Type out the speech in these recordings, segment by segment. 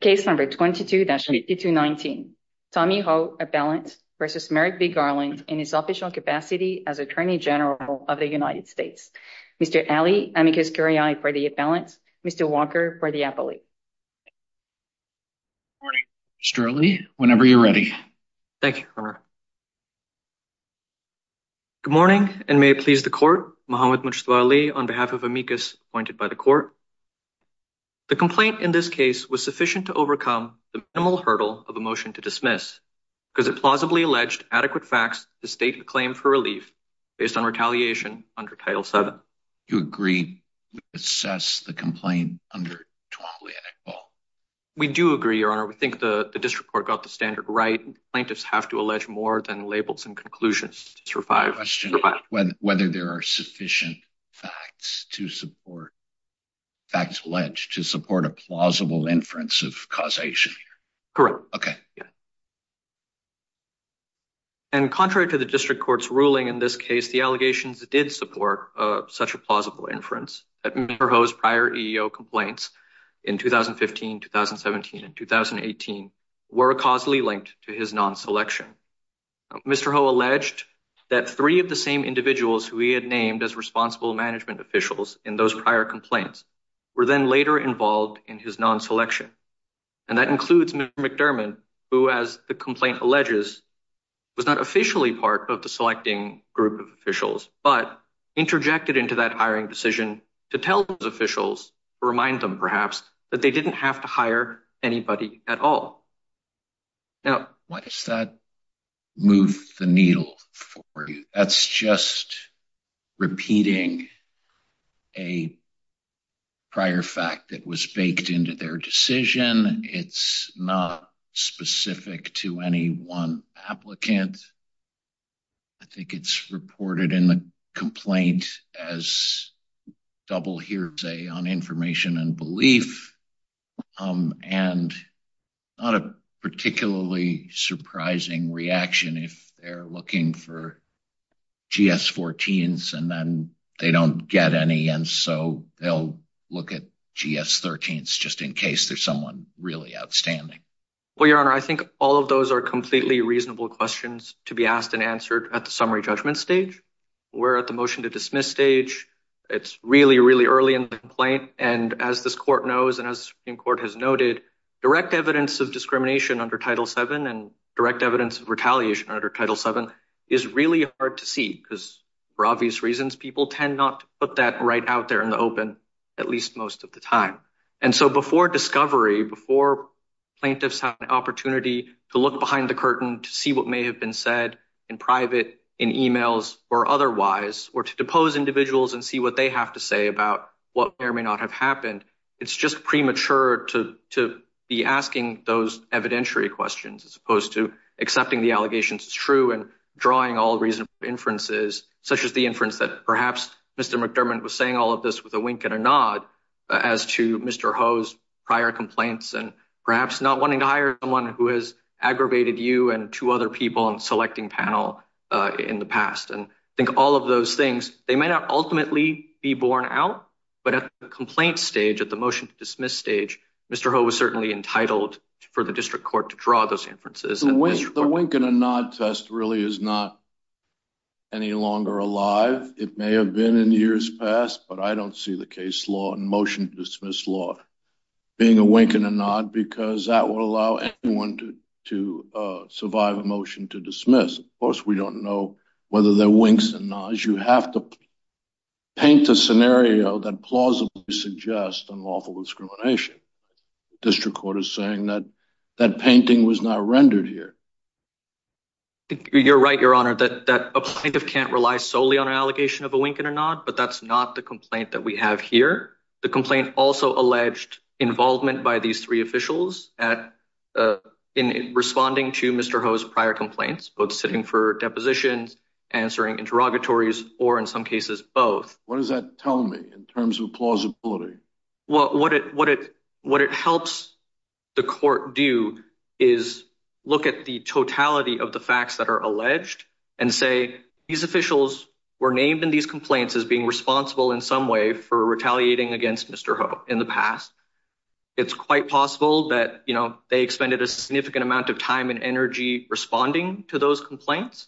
Case number 22-8219. Tommy Ho, a balance versus Merrick v. Garland in his official capacity as Attorney General of the United States. Mr. Ali, amicus curiae for the balance. Mr. Walker for the appellate. Good morning Mr. Ali, whenever you're ready. Thank you. Good morning and may it please the court, Muhammad Mujtaba Ali on behalf of amicus appointed by the court. The complaint in this case was sufficient to overcome the minimal hurdle of a motion to dismiss because it plausibly alleged adequate facts to state the claim for relief based on retaliation under Title VII. Do you agree we assess the complaint under Twombly Act law? We do agree, your honor. We think the district court got the standard right. Plaintiffs have to allege more than labels and conclusions to survive. I question whether there are sufficient facts to support, facts alleged, to support a plausible inference of causation. Correct. Okay. And contrary to the district court's ruling in this case, the allegations did support such a plausible inference that Mr. Ho's prior EEO complaints in 2015, 2017, and 2018 were causally linked to his non-selection. Mr. Ho alleged that three of the same individuals who he had named as responsible management officials in those prior complaints were then later involved in his non-selection. And that includes Mr. McDermott, who, as the complaint alleges, was not officially part of the selecting group of officials, but interjected into that hiring decision to tell his officials, remind them perhaps, that they didn't have to hire anybody at all. Now, why does that move the needle for you? That's just repeating a prior fact that was baked into their decision. It's not specific to any one applicant. I think it's reported in the complaint as double hearsay on information and belief, and not a particularly surprising reaction if they're looking for GS-14s and then they don't get any, and so they'll look at GS-13s just in case there's someone really outstanding. Well, Your Honor, I think all of those are completely reasonable questions to be asked and answered at the summary judgment stage. We're at the motion to dismiss stage. It's really, really early in the complaint. And as this court knows, and as Supreme Court has noted, direct evidence of discrimination under Title VII and direct evidence of retaliation under Title VII is really hard to see because, for obvious reasons, people tend not to put that right out there in the open, at least most of the time. And so before discovery, before plaintiffs have an opportunity to look behind the curtain to see what may have been said in private, in emails, or otherwise, or to depose individuals and see what they have to say about what may or may not have happened, it's just premature to be asking those evidentiary questions as opposed to accepting the allegations as true and drawing all reasonable inferences, such as the inference that perhaps Mr. McDermott was saying all of this with a wink and a nod as to Mr. Ho's prior complaints and perhaps not wanting to hire someone who has aggravated you and two other people on the selecting panel in the past. And I think all of those things, they may not ultimately be borne out, but at the complaint stage, at the motion to dismiss stage, Mr. Ho was certainly entitled for the district court to draw those inferences. The wink and a nod test really is not any longer alive. It may have been in years past, but I don't see the case law and motion to dismiss law being a wink and a nod because that would allow anyone to survive a motion to dismiss. Of course, we don't know whether they're winks and nods. You have to paint a scenario that plausibly suggests unlawful discrimination. District court is saying that that painting was not rendered here. You're right, your honor, that a plaintiff can't rely solely on an allegation of a wink and a nod, but that's not the complaint that we have here. The complaint also alleged involvement by these three officials in responding to Mr. Ho's prior complaints, both sitting for depositions, answering interrogatories, or in some cases, both. What does that tell me in terms of plausibility? What it helps the court do is look at the totality of the facts that are alleged and say, these officials were named in these complaints as being responsible in some way for retaliating against Mr. Ho in the past. It's quite possible that they expended a significant amount of time and energy responding to those complaints.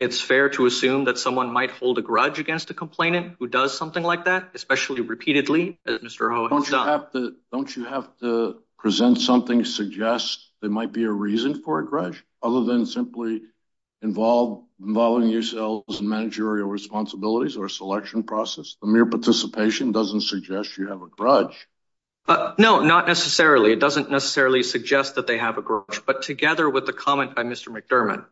It's fair to assume that someone might hold a grudge against a complainant who does something like that, especially repeatedly, as Mr. Ho has done. Don't you have to present something that suggests there might be a reason for a grudge, other than simply involving yourselves in managerial responsibilities or a selection process? The mere participation doesn't suggest you have a grudge. No, not necessarily. It doesn't necessarily suggest that they have a grudge, but together with the comment by Mr. McDermott,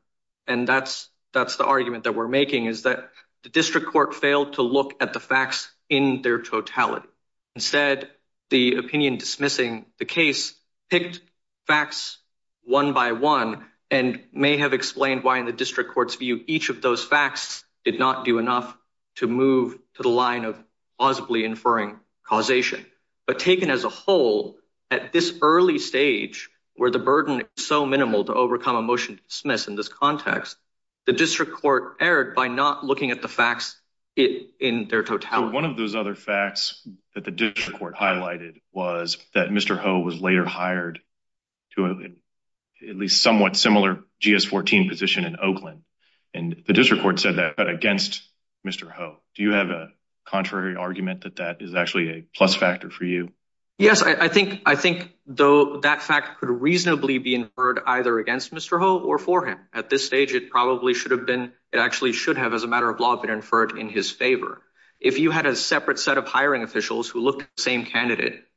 and that's the argument that we're making, is that the district court failed to look at the facts in their totality. Instead, the opinion dismissing the case picked facts one by one and may have explained why in the district court's view, each of those facts did not do enough to move to the line of plausibly inferring causation. But taken as a whole, at this early stage where the burden is so minimal to overcome a motion to dismiss in this context, the district court erred by not looking at the facts in their totality. One of those other facts that the district court highlighted was that Mr. Ho was later hired to at least somewhat similar GS-14 position in Oakland, and the district court said that against Mr. Ho. Do you have a contrary argument that that is actually a plus factor for you? Yes, I think though that fact could reasonably be inferred either against Mr. Ho or for him. At this stage, it probably should have been, it actually should have, as a matter of law, been inferred in his favor. If you had a separate set of hiring officials who looked at the same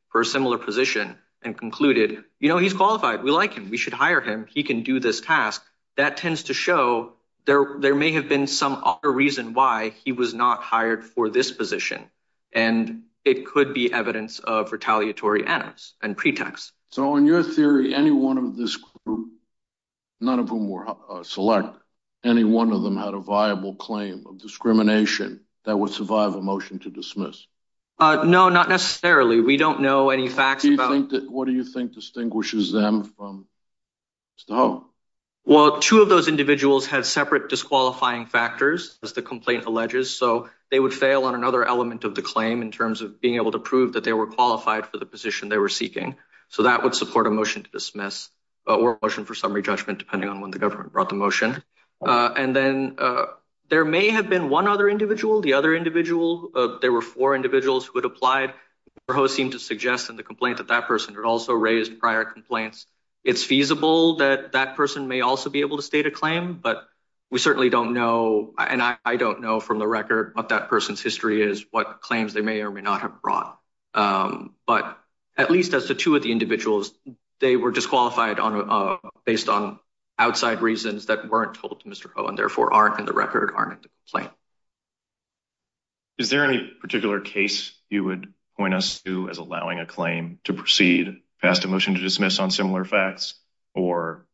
for a similar position and concluded, you know, he's qualified, we like him, we should hire him, he can do this task, that tends to show there may have been some other reason why he was not hired for this position. And it could be evidence of retaliatory animus and pretext. So in your theory, any one of this group, none of whom were select, any one of them had a viable claim of discrimination that would survive a motion to dismiss? No, not necessarily. We don't know any facts. What do you think distinguishes them from Mr. Ho? Well, two of those individuals had separate disqualifying factors, as the complaint alleges, so they would fail on another element of the claim in terms of being able to prove that they were qualified for the position they were seeking. So that would support a motion to dismiss or a motion for summary judgment, depending on when the government brought the motion. And then there may have been one other individual, the other individual, there were four individuals who had applied. Mr. Ho seemed to suggest in the complaint that that person had also raised prior complaints. It's feasible that that person may also be able to state a claim, but we certainly don't know, and I don't know from the record what that person's history is, what claims they may or may not have brought. But at least as the two of the individuals, they were disqualified based on outside reasons that weren't told to Mr. Ho and therefore aren't in the record, aren't in the complaint. Is there any particular case you would point us to as allowing a claim to proceed? Passed a motion to dismiss on similar facts, or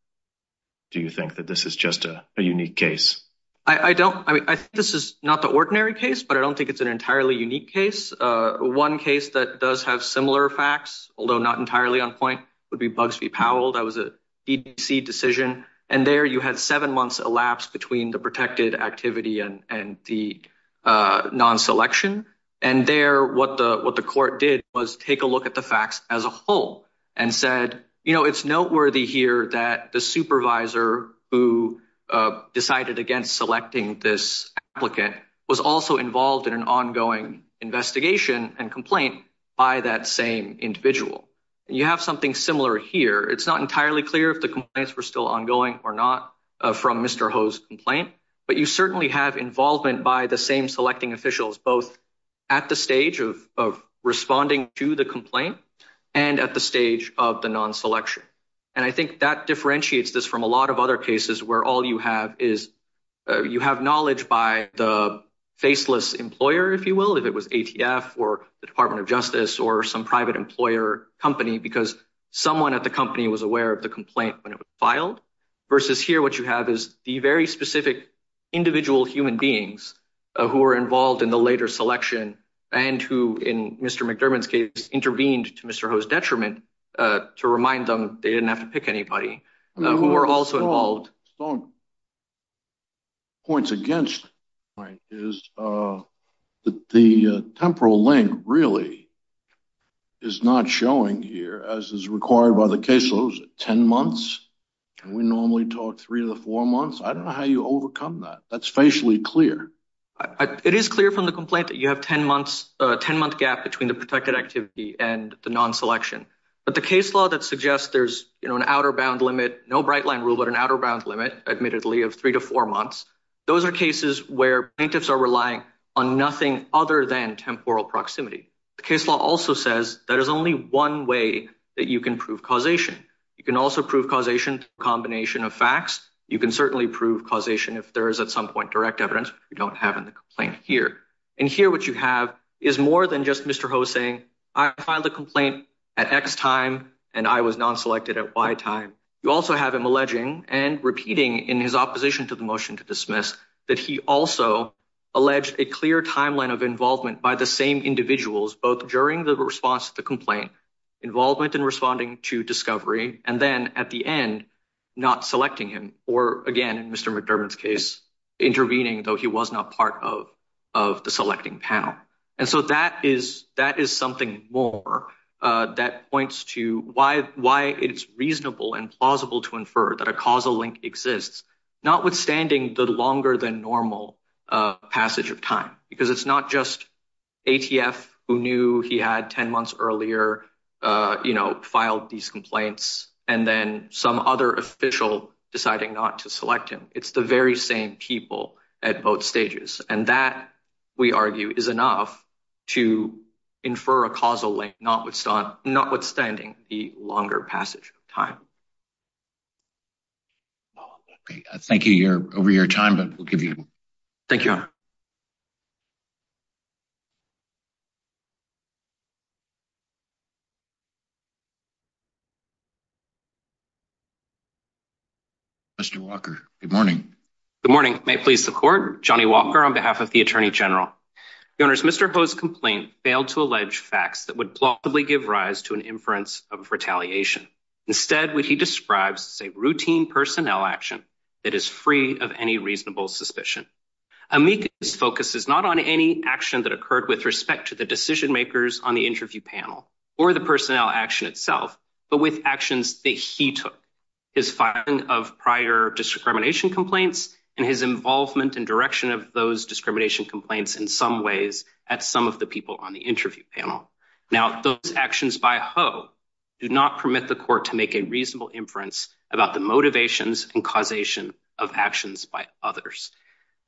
do you think that this is just a unique case? I don't, I mean, I think this is not the ordinary case, but I don't think it's an entirely unique case. One case that does have similar facts, although not entirely on point, would be Bugsby Powell. That was a DDC decision, and there you had seven months elapsed between the protected activity and the non-selection. And there, what the court did was take a look at the facts as a whole and said, you know, it's noteworthy here that the supervisor who decided against selecting this applicant was also involved in an ongoing investigation and complaint by that same individual. You have something similar here. It's not entirely clear if the complaints were still ongoing or not from Mr. Ho's complaint, but you certainly have involvement by the same selecting officials, both at the stage of responding to the complaint and at the stage of the non-selection. And I think that differentiates this from a lot of other cases where all you have is, you have knowledge by the faceless employer, if you will, if it was ATF or the Department of Justice or some private employer company, because someone at the time of the complaint, when it was filed, versus here, what you have is the very specific individual human beings who were involved in the later selection and who, in Mr. McDermott's case, intervened to Mr. Ho's detriment to remind them they didn't have to pick anybody, who were also involved. Some points against this is that the temporal link really is not showing here, as is required by the non-selection. I don't know how you overcome that. That's facially clear. It is clear from the complaint that you have a 10-month gap between the protected activity and the non-selection, but the case law that suggests there's an outer bound limit, no bright line rule, but an outer bound limit, admittedly, of three to four months, those are cases where plaintiffs are relying on nothing other than temporal proximity. The case law also says there is only one way that you can prove causation. You can also prove causation through a combination of facts. You can certainly prove causation if there is at some point direct evidence, which we don't have in the complaint here. And here what you have is more than just Mr. Ho saying, I filed the complaint at X time and I was non-selected at Y time. You also have him alleging and repeating in his opposition to the motion to dismiss that he also alleged a clear timeline of involvement by the same individuals, both during the response to the complaint, involvement in responding to discovery, and then at the end, not selecting him or again, in Mr. McDermott's case, intervening though he was not part of the selecting panel. And so that is something more that points to why it's reasonable and plausible to infer that a causal link exists, notwithstanding the longer than normal passage of time, because it's not just ATF who knew he had 10 months earlier, you know, filed these complaints and then some other official deciding not to select him. It's the very same people at both stages. And that we argue is enough to infer a causal link, notwithstanding the longer passage of time. I thank you over your time, but we'll give you a moment. Thank you, Your Honor. Mr. Walker, good morning. Good morning. May it please the Court, Johnny Walker on behalf of the Attorney General. Your Honors, Mr. Ho's complaint failed to allege facts that would plausibly give rise to an inference of retaliation. Instead, what he describes is a routine personnel action that is free of any reasonable suspicion. Amica's focus is not on any action that occurred with respect to the decision makers on the interview panel or the personnel action itself, but with actions that he took. His filing of prior discrimination complaints and his involvement and direction of those discrimination complaints in some ways at some of the people on the interview panel. Now, those actions by Ho do not permit the Court to make a reasonable inference about the motivations and causation of actions by others.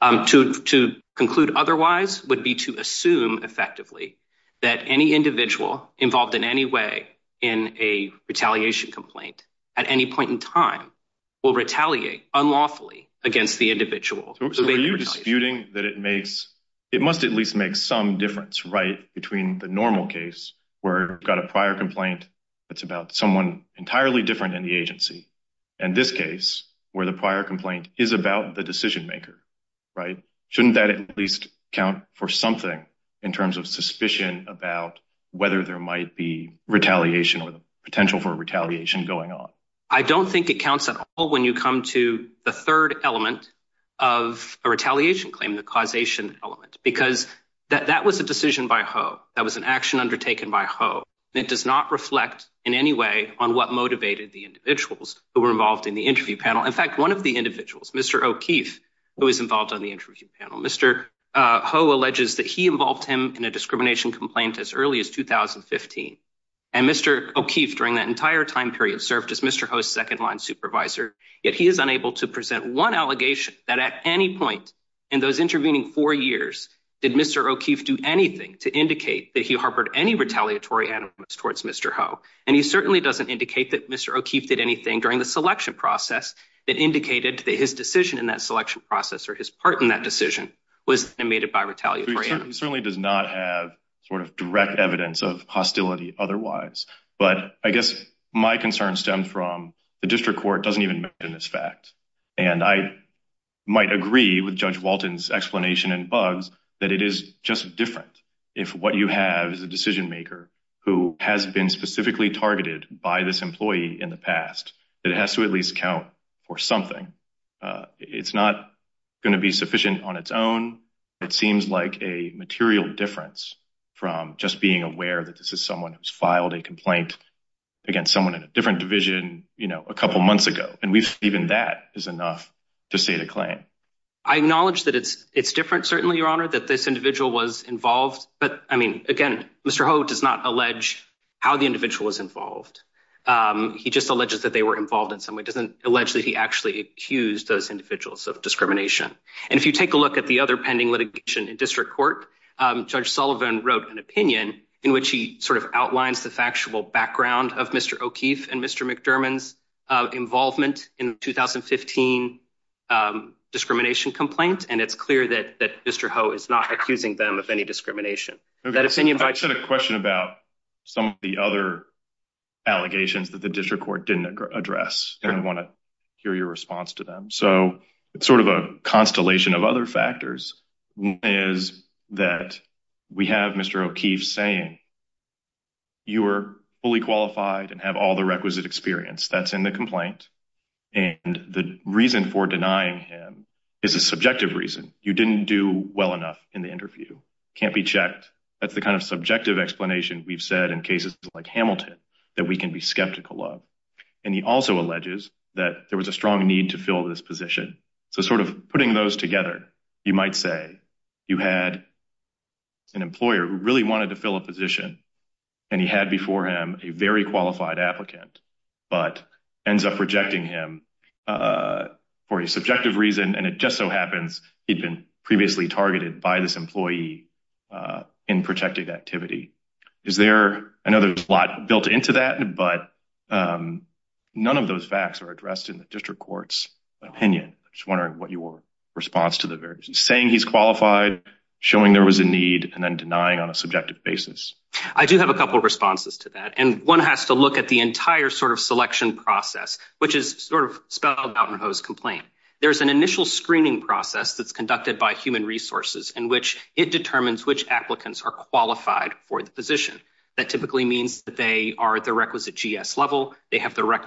To conclude otherwise would be to assume effectively that any individual involved in any way in a retaliation complaint at any point in time will retaliate unlawfully against the individual. So are you disputing that it makes, it must at least make some difference right between the normal case where you've got a prior complaint that's about someone entirely different in the agency and this case where the prior complaint is about the decision maker, right? Shouldn't that at least count for something in terms of suspicion about whether there might be retaliation or the potential for retaliation going on? I don't think it counts at all when you come to the third element of a retaliation claim, the causation element, because that was a decision by Ho. That was an action undertaken by Ho. It does not reflect in any way on what motivated the individuals who were involved in the interview panel. In fact, one of the individuals, Mr. O'Keefe, who was involved on the interview panel, Mr. Ho alleges that he involved him in a discrimination complaint as early as 2015. And Mr. O'Keefe during that entire time period served as Mr. Ho's second-line supervisor, yet he is unable to present one allegation that at any point in those intervening four years did Mr. O'Keefe do anything to indicate that he harbored any retaliatory animus towards Mr. Ho. And he certainly doesn't indicate that Mr. O'Keefe did anything during the selection process that indicated that his decision in that selection process or his part in that decision was animated by retaliatory animus. He certainly does not have sort of direct evidence of hostility otherwise. But I guess my concern stems from the district court doesn't even mention this fact. And I might agree with Judge Walton's explanation and Buggs that it is just different if what you have is a decision maker who has been specifically targeted by this employee in the past. It has to at least count for something. It's not going to be sufficient on its own. It seems like a material difference from just being aware that this is someone who's filed a complaint against someone in a different division, you know, a couple months ago. And even that is enough to state a claim. I acknowledge that it's different, certainly, Your Honor, that this individual was involved. But I mean, again, Mr. Ho does not allege how the individual was involved. He just alleges that they were involved in some way. He doesn't allege that he actually accused those individuals of discrimination. And if you take a look at the other pending litigation in district court, Judge Sullivan wrote an opinion in which he sort of outlines the factual background of Mr. O'Keefe and Mr. McDermott's involvement in the 2015 discrimination complaint. And it's clear that Mr. Ho is not accusing them of any discrimination. I just had a question about some of the other allegations that the district court didn't address. And I want to hear your response to them. So it's sort of a constellation of other factors is that we have Mr. O'Keefe saying you are fully qualified and have all the requisite experience that's in the complaint. And the reason for denying him is a subjective reason. You didn't do well enough in the interview. Can't be checked. That's the kind of subjective explanation we've said in cases like Hamilton that we can be skeptical of. And he also alleges that there was a strong need to fill this position. So sort of putting those together, you might say you had an employer who really wanted to fill a position and he had before him a very qualified applicant, but ends up rejecting him for a subjective reason. And it just so happens he'd been previously targeted by this employee in protected activity. Is there another lot built into that? But none of those facts are addressed in the district court's opinion. I'm just wondering what your response to the various saying he's qualified, showing there was a need, and then denying on a subjective basis. I do have a couple of responses to that. And one has to look at the entire sort of selection process, which is sort of spelled out in Ho's complaint. There's an initial screening process that's conducted by human resources in which it determines which applicants are qualified for the position. That typically means that they are at the requisite GS level. They have the deemed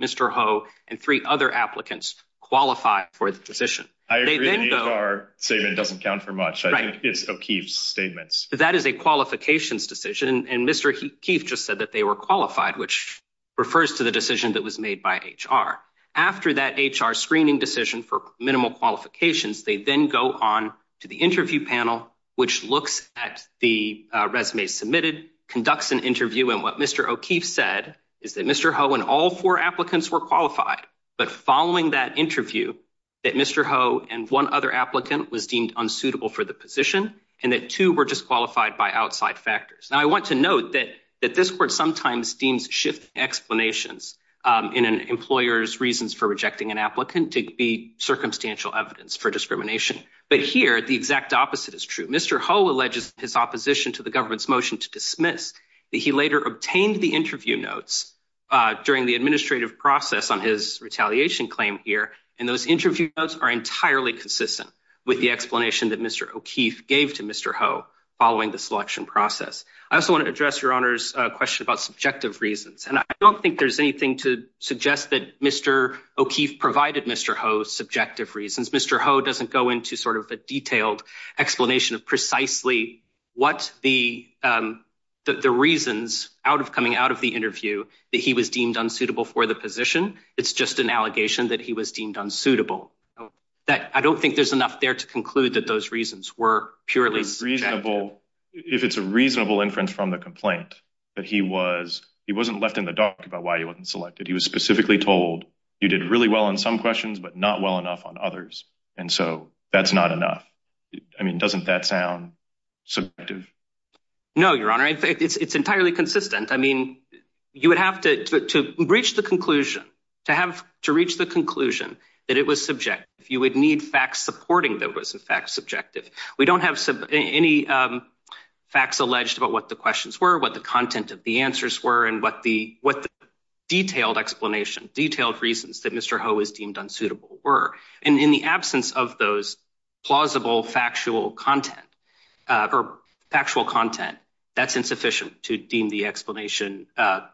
Mr. Ho and three other applicants qualify for the position. I agree the HR statement doesn't count for much. I think it's O'Keefe's statements. That is a qualifications decision. And Mr. O'Keefe just said that they were qualified, which refers to the decision that was made by HR. After that HR screening decision for minimal qualifications, they then go on to the interview panel, which looks at the resume submitted, conducts an interview. And what Mr. O'Keefe said is that Mr. Ho and all four applicants were qualified. But following that interview, that Mr. Ho and one other applicant was deemed unsuitable for the position, and that two were disqualified by outside factors. Now, I want to note that this court sometimes deems shift explanations in an employer's reasons for rejecting an applicant to be circumstantial evidence for discrimination. But here, the exact opposite is true. Mr. Ho alleges his opposition to the government's dismiss that he later obtained the interview notes during the administrative process on his retaliation claim here. And those interview notes are entirely consistent with the explanation that Mr. O'Keefe gave to Mr. Ho following the selection process. I also want to address Your Honor's question about subjective reasons. And I don't think there's anything to suggest that Mr. O'Keefe provided Mr. Ho subjective reasons. Mr. Ho doesn't go into sort of a detailed explanation of precisely what the reasons out of coming out of the interview that he was deemed unsuitable for the position. It's just an allegation that he was deemed unsuitable. I don't think there's enough there to conclude that those reasons were purely subjective. If it's a reasonable inference from the complaint, that he wasn't left in the dark about why he wasn't selected. He was specifically told, you did really well on some questions, but not well enough on others. And so that's not enough. I mean, doesn't that sound subjective? No, Your Honor, it's entirely consistent. I mean, you would have to reach the conclusion, to have to reach the conclusion that it was subjective. You would need facts supporting that was in fact subjective. We don't have any facts alleged about what the questions were, what the content of the answers were, and what the detailed explanation, detailed reasons that Mr. Ho was deemed unsuitable were. And in the absence of those plausible factual content, or factual content, that's insufficient to deem the explanation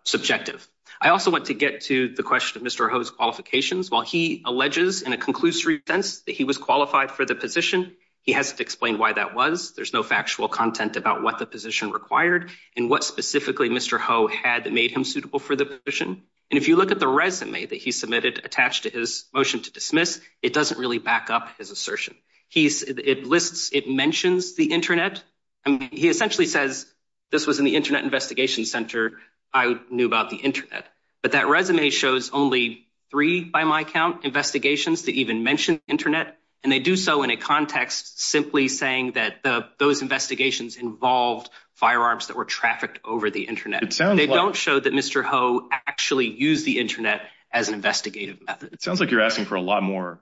subjective. I also want to get to the question of Mr. Ho's qualifications. While he alleges in a conclusory sense that he was qualified for the position, he hasn't explained why that was. There's no factual content about what the position required, and what specifically Mr. Ho had made him suitable for the position. And if you look at the resume that he submitted attached to his motion to dismiss, it doesn't really back up his assertion. It lists, it mentions the internet. I mean, he essentially says, this was in the Internet Investigation Center, I knew about the internet. But that resume shows only three, by my count, investigations that even mention internet. And they do so in a context, simply saying that those investigations involved firearms that were trafficked over the internet. They don't show that Mr. Ho actually used the internet as an investigative method. It sounds like you're asking for a lot more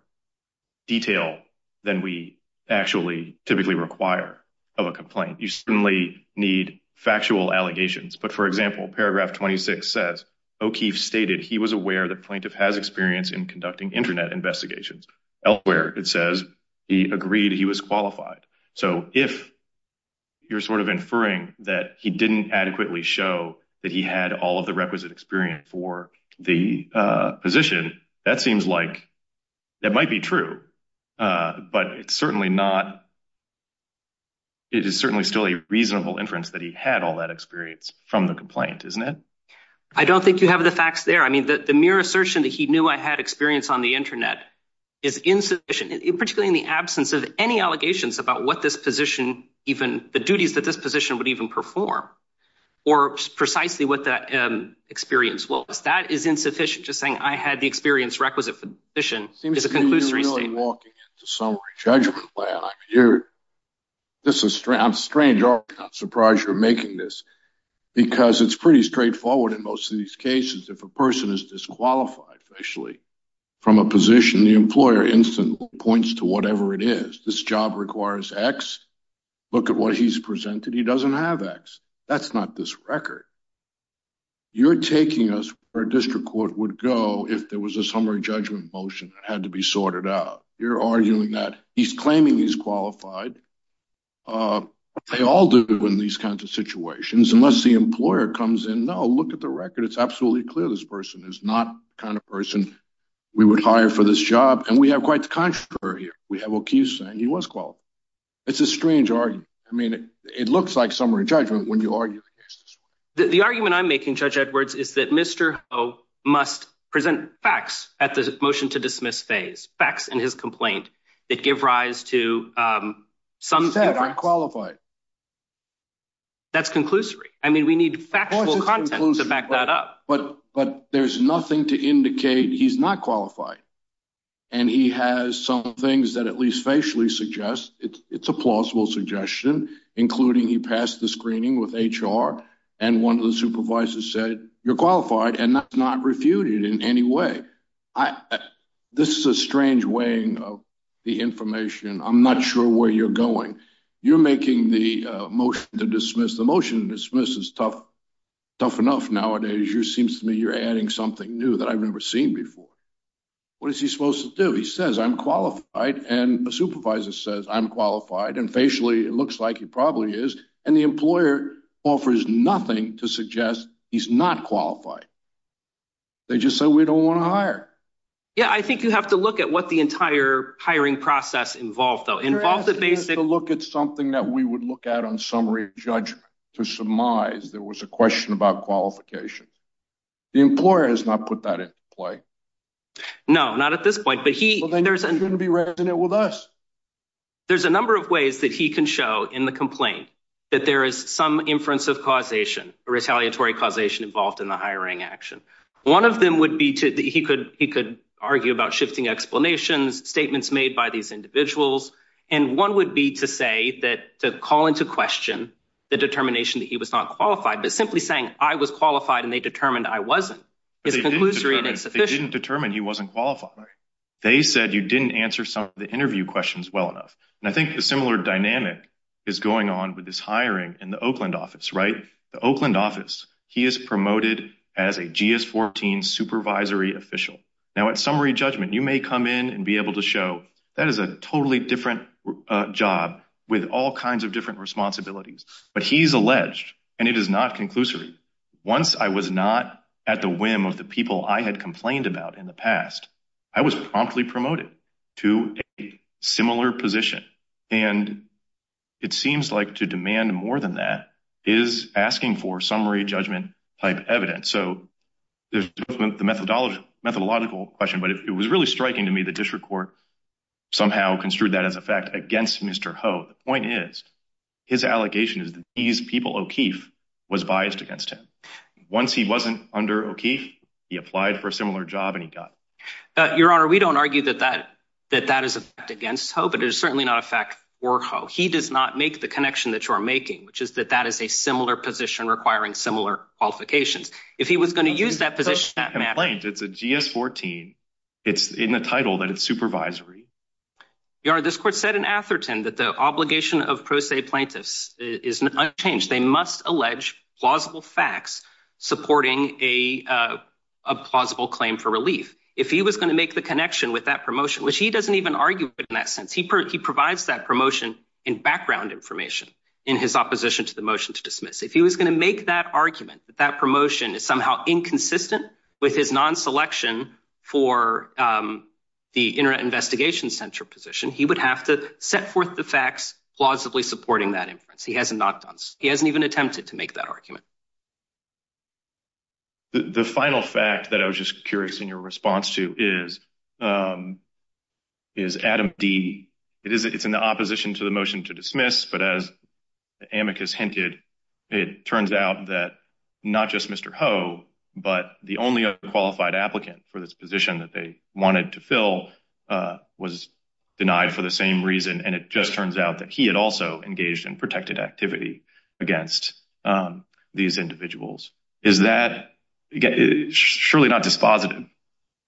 detail than we actually typically require of a complaint. You certainly need factual allegations. But for example, paragraph 26 says, O'Keefe stated he was aware that plaintiff has experience in conducting internet investigations. Elsewhere, it says he agreed he was qualified. So if you're sort of inferring that he didn't adequately show that he had all of the requisite experience for the position, that seems like that might be true. But it's certainly not. It is certainly still a reasonable inference that he had all that experience from the complaint, isn't it? I don't think you have the facts there. I mean, the mere assertion that he knew I had experience on the internet is insufficient, particularly in the absence of any allegations about what this position, even the duties that this position would even perform, or precisely what that experience was. That is insufficient. Just saying I had the experience requisite for the position is a conclusory statement. It seems to me you're really walking into summary judgment land. I'm surprised you're making this, because it's pretty straightforward in most of these cases. If a person is disqualified officially from a position, the employer instantly points to whatever it is. This job requires X. Look at what he's presented. He doesn't have X. That's not this record. You're taking us where a district court would go if there was a summary judgment motion that had to be sorted out. You're arguing that he's claiming he's qualified. They all do in these kinds of situations. Unless the employer comes in, no, look at the record. It's absolutely clear this person is not the kind of person we would hire for this job. And we have quite the contrary here. We have O'Keefe saying he was qualified. It's a strange argument. I mean, it looks like summary judgment when you argue the case this way. The argument I'm making, Judge Edwards, is that Mr. Ho must present facts at the motion-to-dismiss phase. Facts in his complaint that give rise to some... He said I'm qualified. That's conclusory. I mean, we need factual content to back that up. But there's nothing to indicate he's not qualified. And he has some things that at least facially suggest it's a plausible suggestion, including he passed the screening with HR and one of the supervisors said you're qualified and that's not refuted in any way. This is a strange weighing of the information. I'm not sure where you're going. You're making the motion to dismiss. The motion is tough enough nowadays. It seems to me you're adding something new that I've never seen before. What is he supposed to do? He says I'm qualified and a supervisor says I'm qualified and facially it looks like he probably is. And the employer offers nothing to suggest he's not qualified. They just say we don't want to hire. Yeah, I think you have to look at what the entire hiring process involved, though. Involve the basic... There's a number of ways that he can show in the complaint that there is some inference of causation, retaliatory causation involved in the hiring action. One of them would be to... He could argue about shifting explanations, statements made by these individuals. One would be to call into question the determination that he was not qualified, but simply saying I was qualified and they determined I wasn't. They didn't determine he wasn't qualified. They said you didn't answer some of the interview questions well enough. I think the similar dynamic is going on with this hiring in the Oakland office, right? The Oakland office, he is promoted as a GS-14 supervisory official. Now, at summary judgment, you may come in and be able to show that is a totally different job with all kinds of different responsibilities, but he's alleged and it is not conclusory. Once I was not at the whim of the people I had complained about in the past, I was promptly promoted to a similar position. And it seems like to demand more than that is asking for summary judgment type evidence. So there's the methodological question, but it was really striking to me the district court somehow construed that as a fact against Mr. Ho. The point is, his allegation is that these people, O'Keefe, was biased against him. Once he wasn't under O'Keefe, he applied for a similar job and he got it. Your Honor, we don't argue that that is against Ho, but it is certainly not a fact for Ho. He does not make the connection that you're making, which is that that is a similar position requiring similar qualifications. If he was going to use that position, that matters. It's a GS-14. It's in the title that it's supervisory. Your Honor, this court said in Atherton that the obligation of pro se plaintiffs is unchanged. They must allege plausible facts supporting a plausible claim for relief. If he was going to make the connection with that promotion, which he doesn't even argue in that He provides that promotion in background information in his opposition to the motion to dismiss. If he was going to make that argument that that promotion is somehow inconsistent with his non-selection for the Internet Investigation Center position, he would have to set forth the facts plausibly supporting that inference. He hasn't even attempted to make that argument. The final fact that I was just curious in your response to is, is Adam D. It's in the opposition to the motion to dismiss, but as Amicus hinted, it turns out that not just Mr. Ho, but the only qualified applicant for this position that they wanted to fill was denied for the same reason. And it just turns out that he had also engaged in protected activity against these individuals. Is that, surely not dispositive,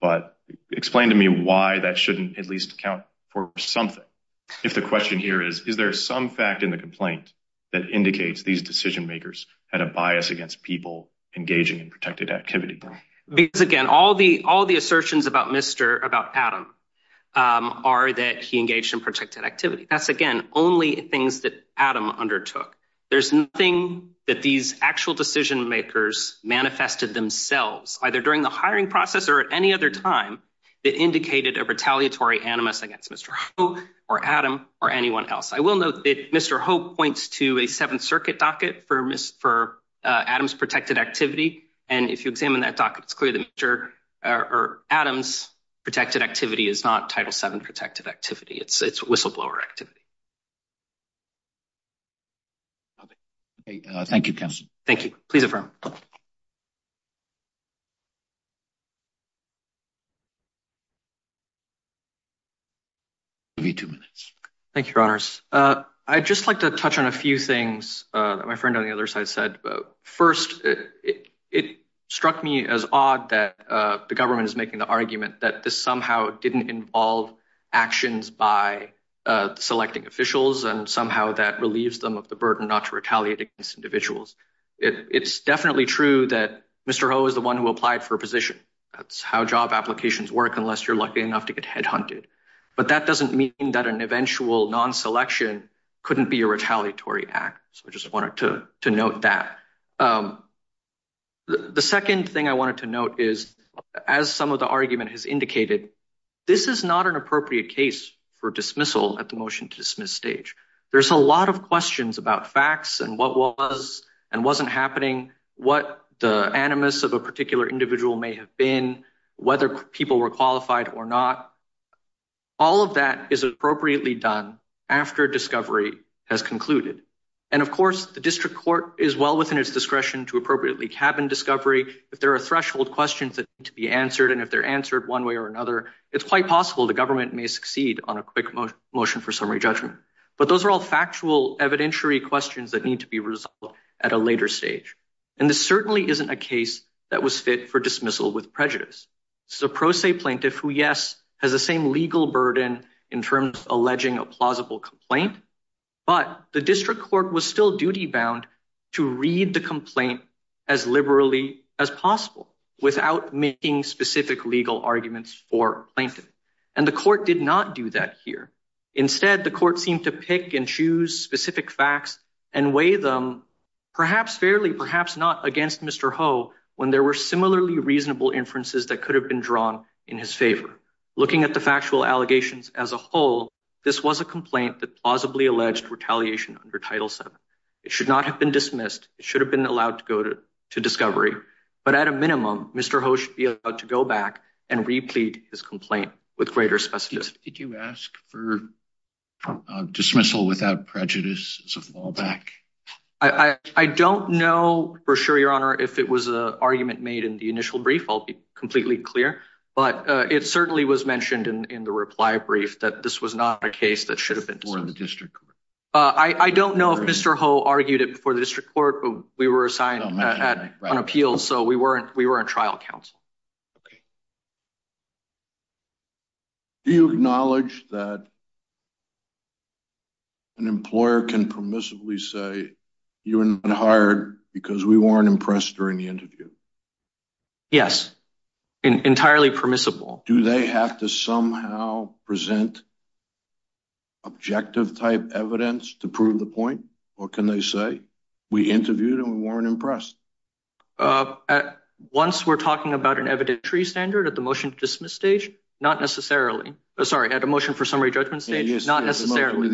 but explain to me why that shouldn't at least count for something. If the question here is, is there some fact in the complaint that indicates these decision makers had a bias against people engaging in protected activity? Because again, all the assertions about Mr., about Adam, um, are that he engaged in protected activity. That's again, only things that Adam undertook. There's nothing that these actual decision makers manifested themselves, either during the hiring process or at any other time that indicated a retaliatory animus against Mr. Ho or Adam or anyone else. I will note that Mr. Ho points to a Seventh Circuit docket for Adam's protected activity. And if you examine that docket, it's clear that Mr., uh, or Adam's protected activity is not Title VII protected activity. It's, it's whistleblower activity. Okay. Uh, thank you, counsel. Thank you. Please affirm. Give you two minutes. Thank you, your honors. Uh, I'd just like to touch on a few things, uh, that my friend on the other side said. First, it struck me as odd that, uh, the government is making the argument that this somehow didn't involve actions by, uh, selecting officials and somehow that relieves them of the burden not to retaliate against individuals. It, it's definitely true that Mr. Ho is the one who applied for a position. That's how job applications work, unless you're lucky enough to get headhunted. But that doesn't mean that an eventual non-selection couldn't be a retaliatory act. So I just wanted to, to note that. Um, the second thing I wanted to note is as some of the argument has indicated, this is not an appropriate case for dismissal at the motion to dismiss stage. There's a lot of questions about facts and what was and wasn't happening, what the animus of a particular individual may have been, whether people were has concluded. And of course the district court is well within its discretion to appropriately cabin discovery. If there are threshold questions that need to be answered and if they're answered one way or another, it's quite possible the government may succeed on a quick motion for summary judgment. But those are all factual evidentiary questions that need to be resolved at a later stage. And this certainly isn't a case that was fit for dismissal with prejudice. So pro se plaintiff who yes, has the same legal burden in terms of alleging a plausible complaint, but the district court was still duty bound to read the complaint as liberally as possible without making specific legal arguments for plaintiff. And the court did not do that here. Instead, the court seemed to pick and choose specific facts and weigh them perhaps fairly, not against Mr. Ho when there were similarly reasonable inferences that could have been drawn in his favor. Looking at the factual allegations as a whole, this was a complaint that plausibly alleged retaliation under title seven. It should not have been dismissed. It should have been allowed to go to discovery, but at a minimum, Mr. Ho should be able to go back and replete his complaint with greater specificity. Did you ask for dismissal without prejudice as a fallback? I don't know for sure, your honor, if it was a argument made in the initial brief, I'll be completely clear. But it certainly was mentioned in the reply brief that this was not a case that should have been. I don't know if Mr. Ho argued it before the district court, but we were assigned on appeals. So we weren't, we weren't trial counsel. Okay. Do you acknowledge that an employer can permissibly say you weren't hired because we weren't impressed during the interview? Yes. Entirely permissible. Do they have to somehow present objective type evidence to prove the point? What can they say? We interviewed and we weren't impressed. Once we're talking about an evidentiary standard at the motion to dismiss stage, not necessarily, sorry, at a motion for summary judgment stage, not necessarily.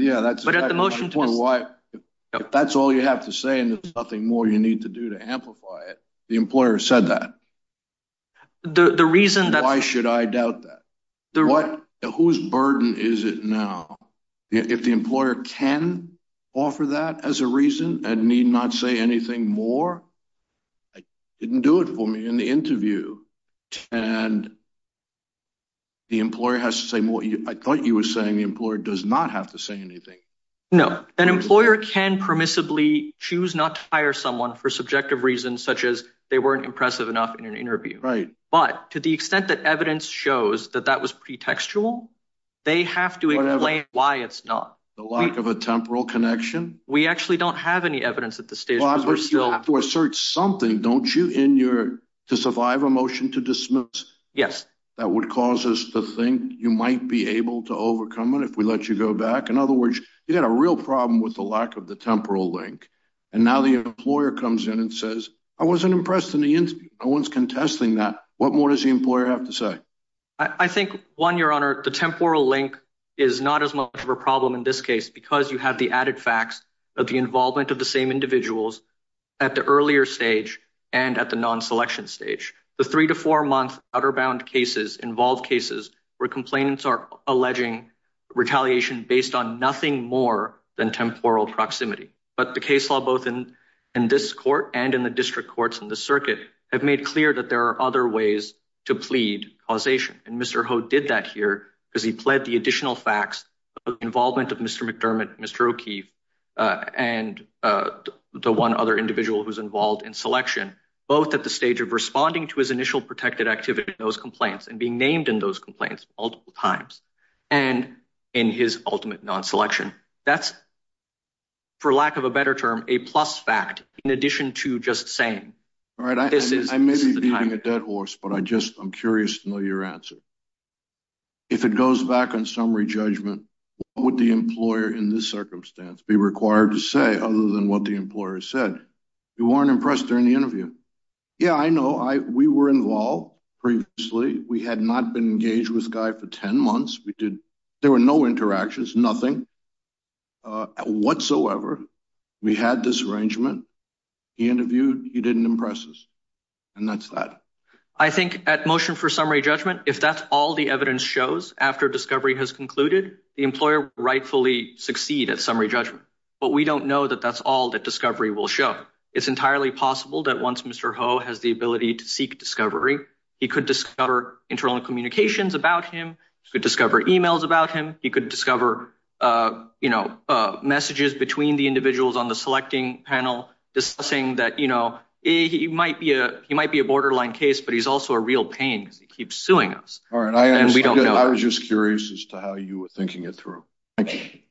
If that's all you have to say and there's nothing more you need to do to amplify it, the employer said that. Why should I doubt that? Whose burden is it now? If the employer can offer that as a reason and need not say anything more, I didn't do it for me in the interview. And the employer has to say more. I thought you were saying the employer does not have to say anything. No, an employer can permissibly choose not to hire someone for subjective reasons such as they weren't impressive enough in an interview. Right. But to the extent that evidence shows that was pretextual, they have to explain why it's not. The lack of a temporal connection? We actually don't have any evidence at this stage. But you have to assert something, don't you, in your to survive a motion to dismiss? Yes. That would cause us to think you might be able to overcome it if we let you go back. In other words, you had a real problem with the lack of the temporal link. And now the employer comes in and says, I wasn't impressed in the interview. No one's contesting that. What more does the employer have to say? I think one, your honor, the temporal link is not as much of a problem in this case because you have the added facts of the involvement of the same individuals at the earlier stage and at the non-selection stage. The three to four month outer bound cases involve cases where complainants are alleging retaliation based on nothing more than temporal proximity. But the case law, both in this court and in the district courts in the other ways to plead causation. And Mr. Ho did that here because he pled the additional facts of involvement of Mr. McDermott, Mr. O'Keefe, and the one other individual who's involved in selection, both at the stage of responding to his initial protected activity in those complaints and being named in those complaints multiple times and in his ultimate non-selection. That's, for lack of a better term, a plus fact in addition to just saying, all right, this is the time. I may be beating a dead horse, but I just, I'm curious to know your answer. If it goes back on summary judgment, what would the employer in this circumstance be required to say other than what the employer said? You weren't impressed during the interview. Yeah, I know. We were involved previously. We had not been engaged with Guy for 10 months. We did, there were no interactions, nothing whatsoever. We had this arrangement. He interviewed, he didn't impress us. And that's that. I think at motion for summary judgment, if that's all the evidence shows after discovery has concluded, the employer will rightfully succeed at summary judgment. But we don't know that that's all that discovery will show. It's entirely possible that once Mr. Ho has the ability to seek discovery, he could discover internal communications about him. He could discover emails about him. He could discover you know, messages between the individuals on the selecting panel discussing that, you know, he might be a borderline case, but he's also a real pain because he keeps suing us. All right. I was just curious as to how you were thinking it through. Thank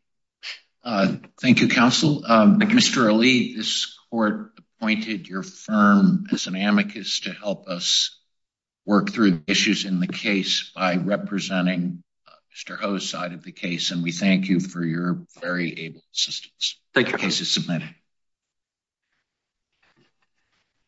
you, counsel. Mr. Ali, this court appointed your firm as an amicus to help us work through issues in the case by representing Mr. Ho's side of the case. And we thank you for your very able assistance. Thank you. Case is submitted.